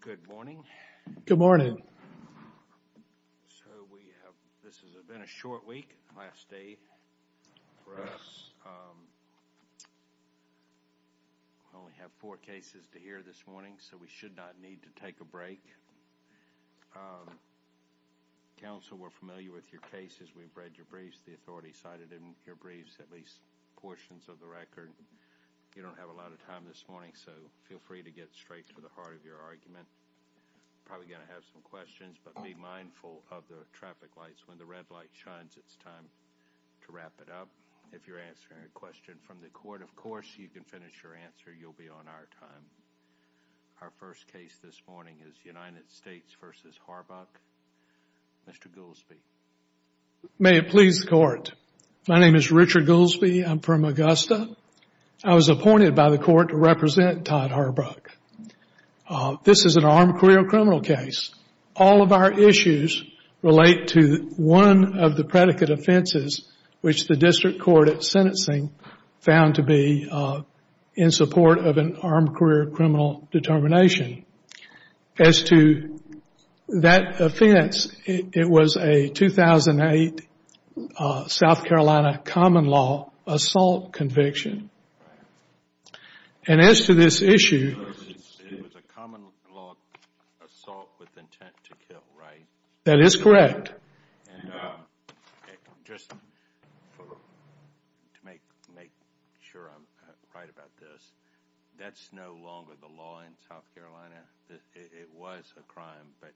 Good morning. Good morning. So we have, this has been a short week, last day for us, we only have four cases to hear this morning so we should not need to take a break. Council, we're familiar with your cases, we've read your briefs, the authority cited in your briefs at least portions of the record. You don't have a lot of time this morning so feel free to get straight to the heart of your argument. Probably going to have some questions but be mindful of the traffic lights, when the red light shines it's time to wrap it up. If you're answering a question from the court, of course, you can finish your answer, you'll be on our time. Our first case this morning is United States v. Harbuck. Mr. Goolsbee. May it please the court, my name is Richard Goolsbee, I'm from Augusta. I was appointed by the court to represent Todd Harbuck. This is an armed career criminal case. All of our issues relate to one of the predicate offenses which the district court at sentencing found to be in support of an armed career criminal determination. As to that offense, it was a 2008 South Carolina common law assault conviction. And as to this issue... It was a common law assault with intent to kill, right? That is correct. And just to make sure I'm right about this, that's no longer the law in South Carolina. It was a crime but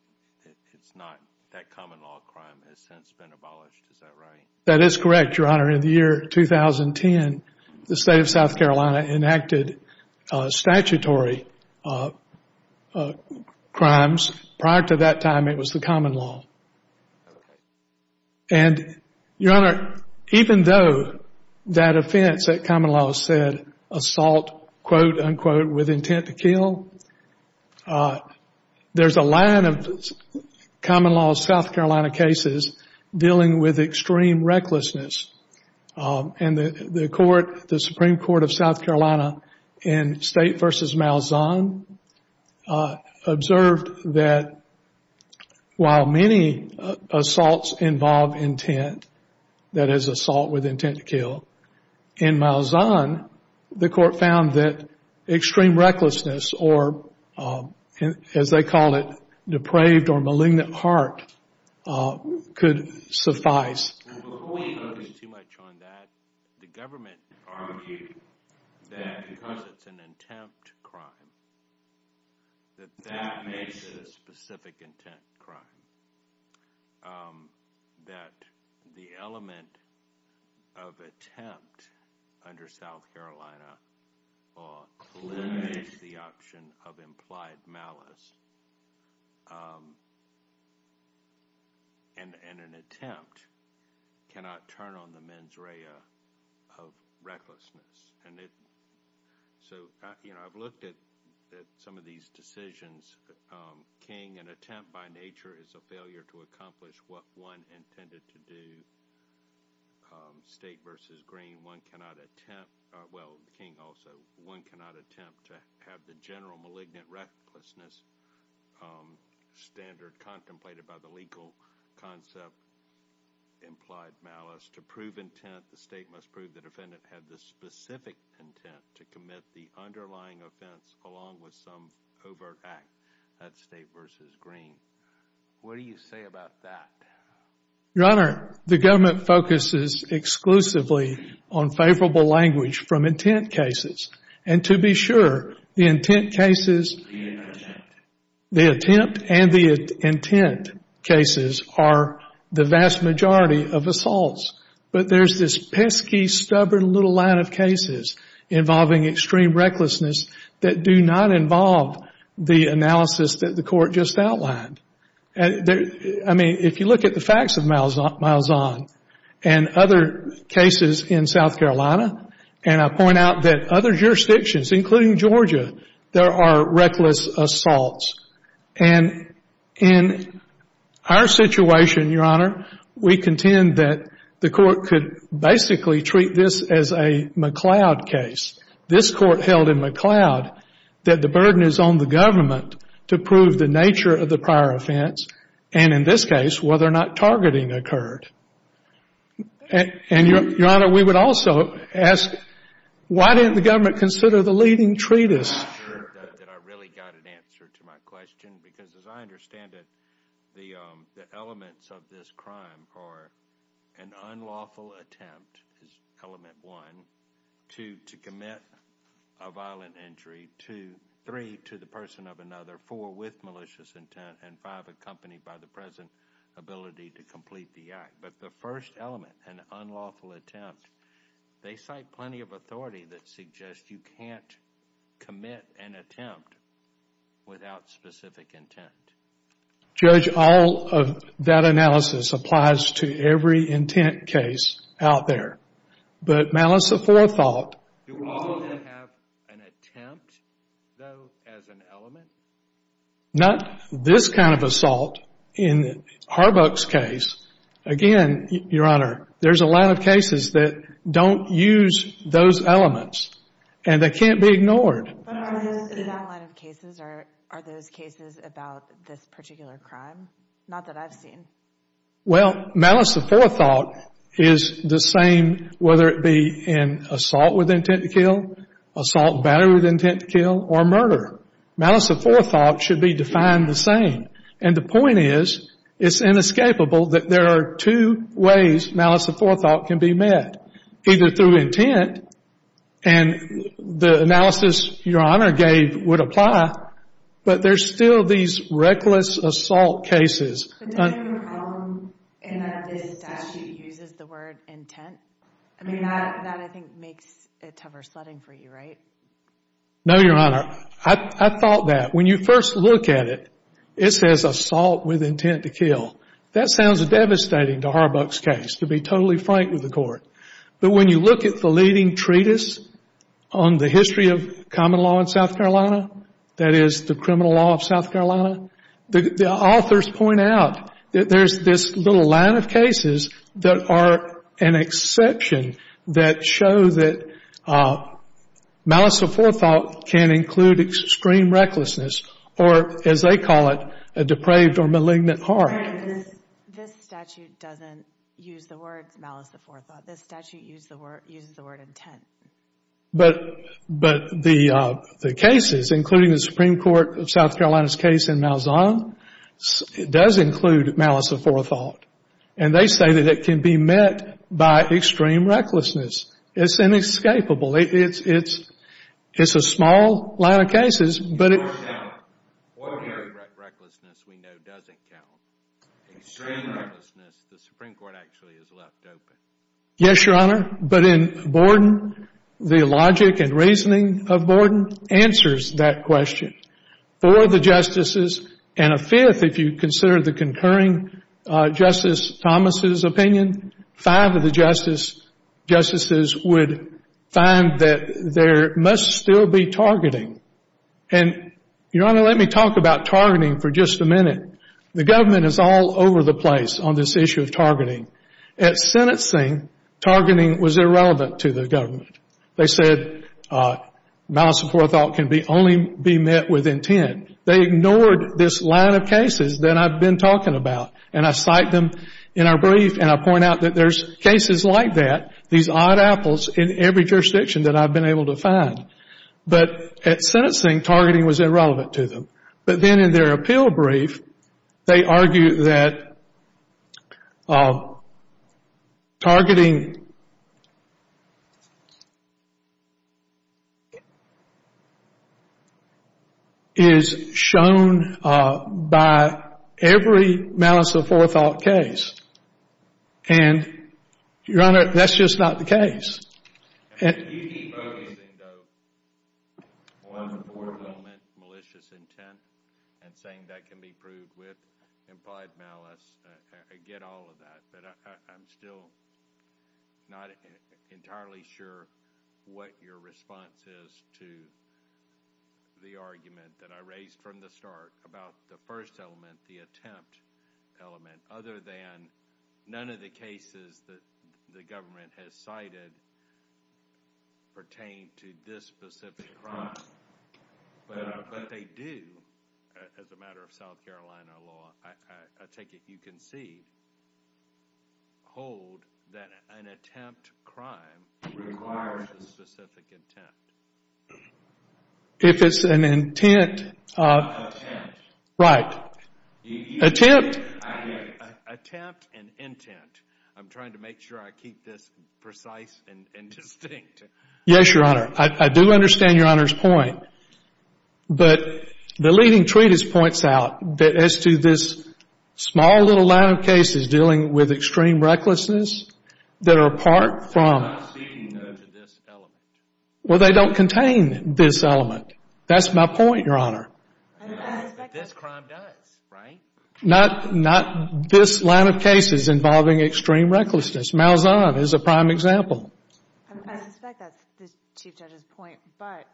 it's not, that common law crime has since been abolished, is that right? That is correct, your honor. In the year 2010, the state of South Carolina enacted statutory crimes, prior to that time it was the common law. And your honor, even though that offense, that common law said, assault, quote unquote, with intent to kill, there's a line of common law South Carolina cases dealing with extreme recklessness and the court, the Supreme Court of South Carolina in State v. Malzahn observed that while many assaults involve intent, that is assault with intent to kill, in Malzahn, the court found that extreme recklessness or, as they call it, depraved or malignant heart could suffice. Before we focus too much on that, the government argued that because it's an intent crime, that that makes it a specific intent crime. That the element of attempt under South Carolina law eliminates the option of implied malice and an attempt cannot turn on the mens rea of recklessness. So, you know, I've looked at some of these decisions, King, an attempt by nature is a failure to accomplish what one intended to do. State v. Green, one cannot attempt, well, King also, one cannot attempt to have the general malignant recklessness standard contemplated by the legal concept implied malice. To prove intent, the state must prove the defendant had the specific intent to commit the underlying offense along with some overt act. That's State v. Green. What do you say about that? Your Honor, the government focuses exclusively on favorable language from intent cases and to be sure, the intent cases, the attempt and the intent cases are the vast majority of assaults. But there's this pesky, stubborn little line of cases involving extreme recklessness that do not involve the analysis that the Court just outlined. I mean, if you look at the facts of Malzahn and other cases in South Carolina, and I point out that other jurisdictions, including Georgia, there are reckless assaults. And in our situation, Your Honor, we contend that the Court could basically treat this as a McLeod case. This Court held in McLeod that the burden is on the government to prove the nature of the prior offense, and in this case, whether or not targeting occurred. And, Your Honor, we would also ask, why didn't the government consider the leading treatise? I'm not sure that I really got an answer to my question, because as I understand it, the elements of this crime are an unlawful attempt, is element one, two, to commit a violent injury, two, three, to the person of another, four, with malicious intent, and five, accompanied by the present ability to complete the act. But the first element, an unlawful attempt, they cite plenty of authority that suggests you can't commit an attempt without specific intent. Judge, all of that analysis applies to every intent case out there, but malice of forethought... Do all of them have an attempt, though, as an element? Not this kind of assault. In Harbuck's case, again, Your Honor, there's a lot of cases that don't use those elements, and they can't be ignored. Are those cases about this particular crime? Not that I've seen. Well, malice of forethought is the same whether it be in assault with intent to kill, assault battery with intent to kill, or murder. Malice of forethought should be defined the same. And the point is, it's inescapable that there are two ways malice of forethought can be met, either through intent, and the analysis Your Honor gave would apply, but there's still these reckless assault cases. But then your column in that statute uses the word intent. I mean, that, I think, makes it toversledding for you, right? No, Your Honor. I thought that. When you first look at it, it says assault with intent to kill. That sounds devastating to Harbuck's case, to be totally frank with the court. But when you look at the leading treatise on the history of common law in South Carolina, that is, the criminal law of South Carolina, the authors point out that there's this little that are an exception that show that malice of forethought can include extreme recklessness, or as they call it, a depraved or malignant heart. This statute doesn't use the words malice of forethought. This statute uses the word intent. But the cases, including the Supreme Court of South Carolina's case in Malzahn, does include malice of forethought. And they say that it can be met by extreme recklessness. It's inescapable. It's a small line of cases, but it... Your Honor, ordinary recklessness we know doesn't count. Extreme recklessness, the Supreme Court actually has left open. Yes, Your Honor. But in Borden, the logic and reasoning of Borden answers that question. Four of the justices, and a fifth if you consider the concurring Justice Thomas' opinion, five of the justices would find that there must still be targeting. And, Your Honor, let me talk about targeting for just a minute. The government is all over the place on this issue of targeting. At sentencing, targeting was irrelevant to the government. They said malice of forethought can only be met with intent. They ignored this line of cases that I've been talking about. And I cite them in our brief, and I point out that there's cases like that, these odd apples in every jurisdiction that I've been able to find. But at sentencing, targeting was irrelevant to them. But then in their appeal brief, they argue that targeting is shown by every malice of forethought case. And, Your Honor, that's just not the case. If you keep focusing, though, on the Borden element, malicious intent, and saying that can be proved with implied malice, I get all of that. But I'm still not entirely sure what your response is to the argument that I raised from the start about the first element, the attempt element, other than none of the cases that the government has cited pertain to this specific crime. But they do, as a matter of South Carolina law, I take it you can see, hold that an attempt crime requires a specific intent. If it's an intent. Right. Attempt. Attempt and intent. I'm trying to make sure I keep this precise and distinct. Yes, Your Honor. I do understand Your Honor's point. But the leading treatise points out that as to this small little line of cases dealing with extreme recklessness, that are apart from... I'm not ceding, though, to this element. Well, they don't contain this element. That's my point, Your Honor. But this crime does, right? Not this line of cases involving extreme recklessness. Malzahn is a prime example. I suspect that's the Chief Judge's point. But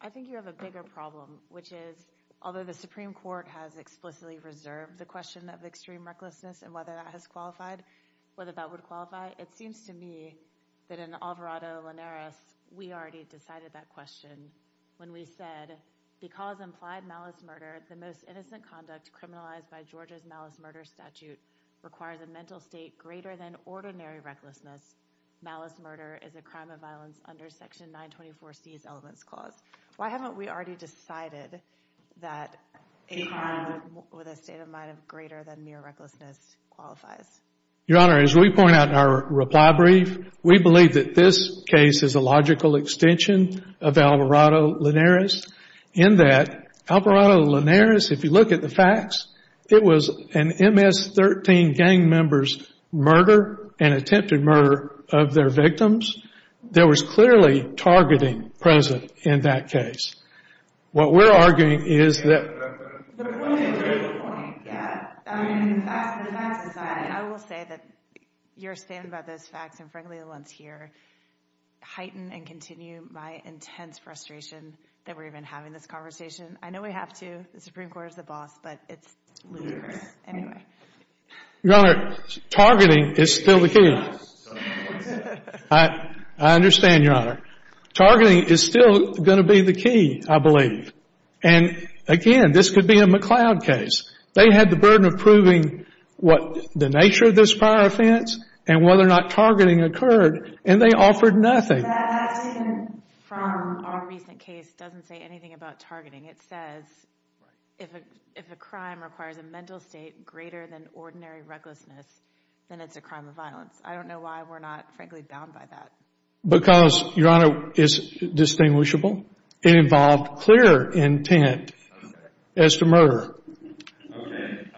I think you have a bigger problem, which is, although the Supreme Court has explicitly reserved the question of extreme recklessness and whether that has qualified, whether that would qualify, it seems to me that in Alvarado-Linares, we already decided that question when we said, because implied malice murder, the most innocent conduct criminalized by Georgia's malice murder statute, requires a mental state greater than ordinary recklessness. Malice murder is a crime of violence under Section 924C's Elements Clause. Why haven't we already decided that a crime with a state of mind of greater than mere recklessness qualifies? Your Honor, as we point out in our reply brief, we believe that this case is a logical extension of Alvarado-Linares in that Alvarado-Linares, if you look at the facts, it was an MS-13 gang member's murder, an attempted murder of their victims. There was clearly targeting present in that case. What we're arguing is that... But what is your point? Yeah. I mean, the facts are decided. I will say that your stand about those facts and, frankly, the ones here heighten and continue my intense frustration that we're even having this conversation. I know we have to. The Supreme Court is the boss, but it's ludicrous. Your Honor, targeting is still the key. I understand, Your Honor. Targeting is still going to be the key, I believe. And, again, this could be a McLeod case. They had the burden of proving what the nature of this prior offense and whether or not targeting occurred, and they offered nothing. That statement from our recent case doesn't say anything about targeting. It says if a crime requires a mental state greater than ordinary recklessness, then it's a crime of violence. I don't know why we're not, frankly, bound by that. Because, Your Honor, it's distinguishable. It involved clear intent as to murder. Okay.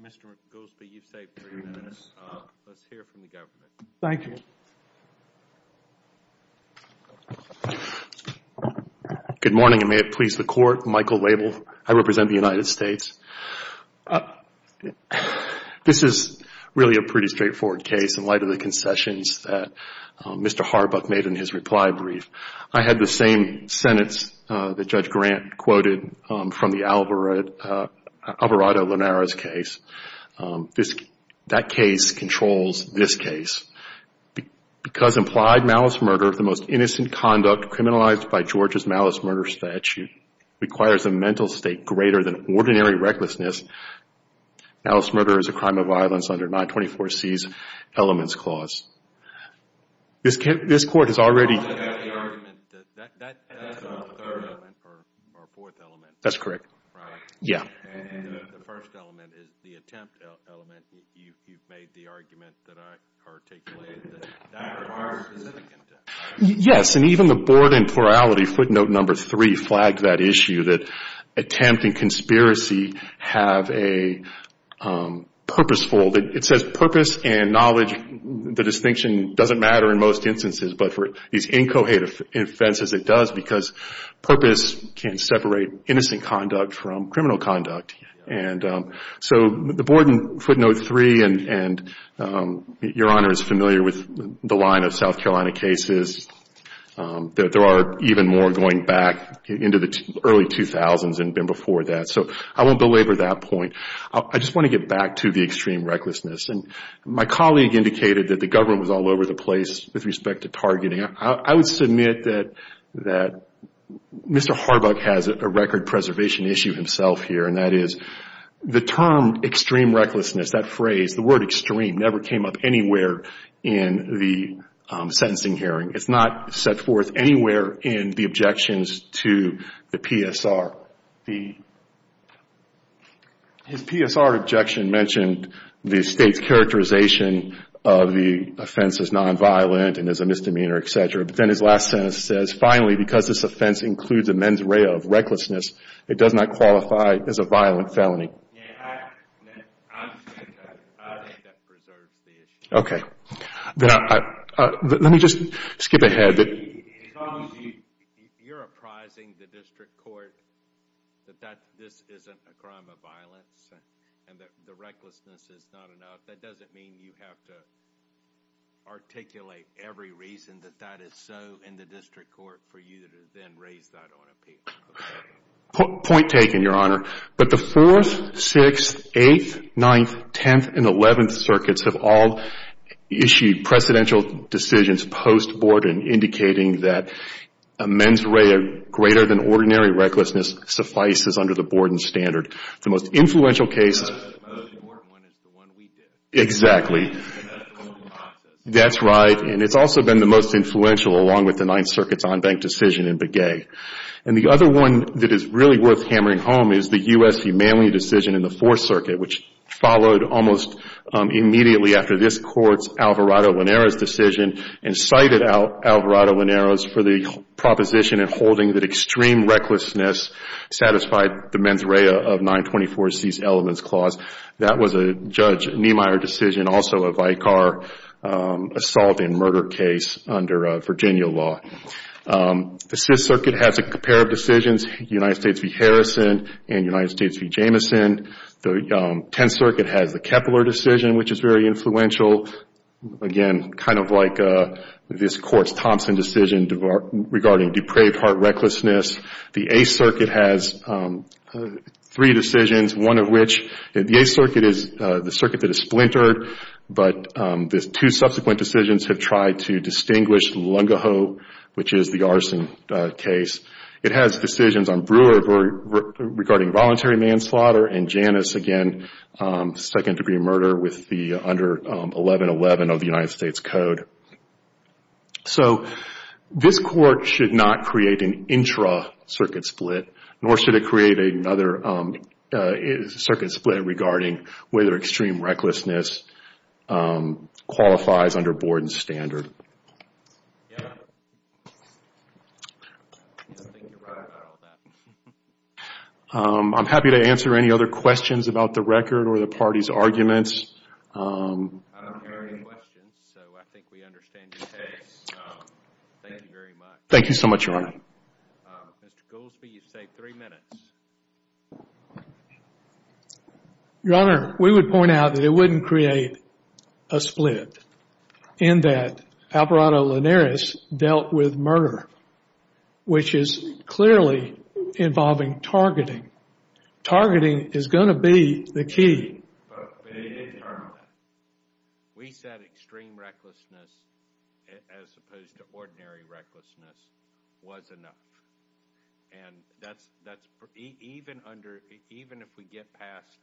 Mr. Golspe, you've saved three minutes. Let's hear from the government. Thank you. Good morning, and may it please the Court. Michael Wabel. I represent the United States. This is really a pretty straightforward case in light of the concessions that Mr. Harbuck made in his reply brief. I had the same sentence that Judge Grant quoted from the Alvarado-Linares case. That case controls this case. Because implied malice murder, the most innocent conduct criminalized by Georgia's malice murder statute, requires a mental state greater than ordinary recklessness. Malice murder is a crime of violence under 924C's elements clause. This Court has already That's a third element or a fourth element. That's correct. Right. Yeah. The first element is the attempt element. You've made the argument that I articulated that that requires specific intent. Yes, and even the board in plurality, footnote number three, flagged that issue, that attempt and conspiracy have a purposeful. It says purpose and knowledge. The distinction doesn't matter in most instances, but for these incoherent offenses, it does because purpose can separate innocent conduct from criminal conduct. And so the board in footnote three, and Your Honor is familiar with the line of South Carolina cases, that there are even more going back into the early 2000s and been before that. So I won't belabor that point. I just want to get back to the extreme recklessness. And my colleague indicated that the government was all over the place with respect to targeting. I would submit that Mr. Harbuck has a record preservation issue himself here, and that is the term extreme recklessness, that phrase, the word extreme, never came up anywhere in the sentencing hearing. It's not set forth anywhere in the objections to the PSR. His PSR objection mentioned the state's characterization of the offense as nonviolent and as a misdemeanor, et cetera. But then his last sentence says, finally, because this offense includes a mens rea of recklessness, it does not qualify as a violent felony. I think that preserves the issue. Let me just skip ahead. As long as you're apprising the district court that this isn't a crime of violence and that the recklessness is not enough, that doesn't mean you have to articulate every reason that that is so in the district court for you to then raise that on appeal. Point taken, Your Honor. But the 4th, 6th, 8th, 9th, 10th, and 11th circuits have all issued precedential decisions post-Borden indicating that a mens rea greater than ordinary recklessness suffices under the Borden standard. The most influential case is the one we did. That's right. And it's also been the most influential along with the 9th circuit's on-bank decision in Begay. And the other one that is really worth hammering home is the U.S. v. Manley decision in the 4th circuit, which followed almost immediately after this Court's Alvarado-Laneros decision and cited Alvarado-Laneros for the proposition in holding that extreme recklessness satisfied the mens rea of 924-C's elements clause. That was a Judge Niemeyer decision, also a Vicar assault and murder case under Virginia law. The 6th circuit has a pair of decisions, U.S. v. Harrison and U.S. v. Jameson. The 10th circuit has the Kepler decision, which is very influential. Again, kind of like this Court's Thompson decision regarding depraved heart recklessness. The 8th circuit has three decisions, one of which the 8th circuit is the circuit that is splintered, but the two subsequent decisions have tried to distinguish Lungahoe, which is the arson case. It has decisions on Brewer regarding voluntary manslaughter and Janus, again, second-degree murder with the under 1111 of the United States Code. So this Court should not create an intra-circuit split, nor should it create another circuit split regarding whether extreme recklessness qualifies under Borden's standard. Yeah. I think you're right about all that. I'm happy to answer any other questions about the record or the party's arguments. I don't hear any questions, so I think we understand your case. Thank you very much. Thank you so much, Your Honor. Mr. Goolsbee, you've saved three minutes. Your Honor, we would point out that it wouldn't create a split in that Alvarado-Linares dealt with murder, which is clearly involving targeting. Targeting is going to be the key. We said extreme recklessness as opposed to ordinary recklessness was enough. And even if we get past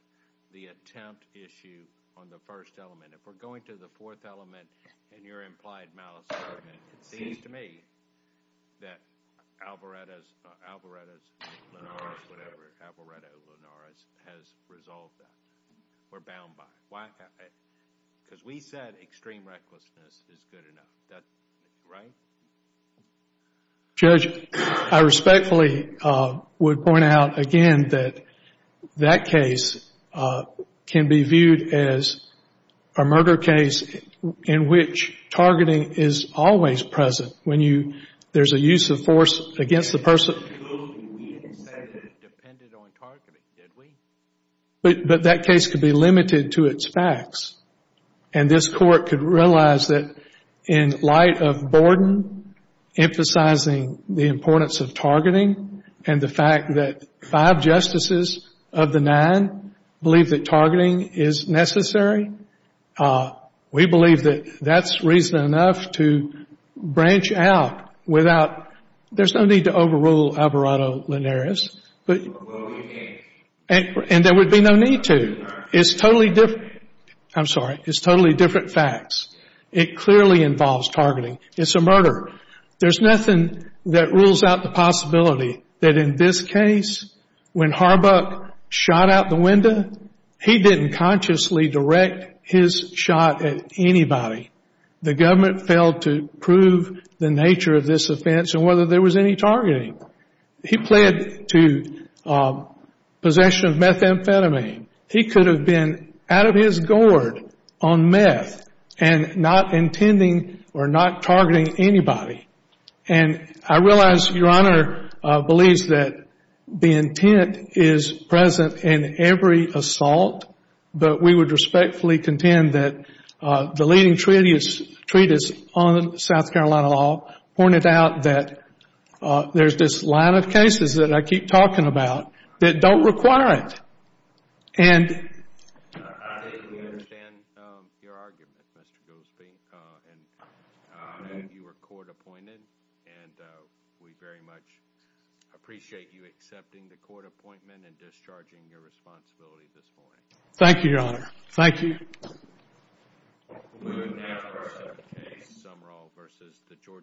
the attempt issue on the first element, if we're going to the fourth element in your implied malice argument, it seems to me that Alvarado-Linares has resolved that. We're bound by it. Because we said extreme recklessness is good enough, right? Judge, I respectfully would point out again that that case can be viewed as a murder case in which targeting is always present when there's a use of force against the person. But that case could be limited to its facts. And this Court could realize that in light of Borden emphasizing the importance of targeting and the fact that five justices of the nine believe that targeting is necessary, we believe that that's reason enough to branch out without – there's no need to overrule Alvarado-Linares. And there would be no need to. It's totally different. I'm sorry. It's totally different facts. It clearly involves targeting. It's a murder. There's nothing that rules out the possibility that in this case, when Harbuck shot out the window, he didn't consciously direct his shot at anybody. The government failed to prove the nature of this offense and whether there was any targeting. He pled to possession of methamphetamine. He could have been out of his gourd on meth and not intending or not targeting anybody. And I realize Your Honor believes that the intent is present in every assault, but we would respectfully contend that the leading treatise on South Carolina law pointed out that there's this line of cases that I keep talking about that don't require it. I understand your argument, Mr. Goolsbee. And you were court-appointed, and we very much appreciate you accepting the court appointment and discharging your responsibility this morning. Thank you, Your Honor. Thank you.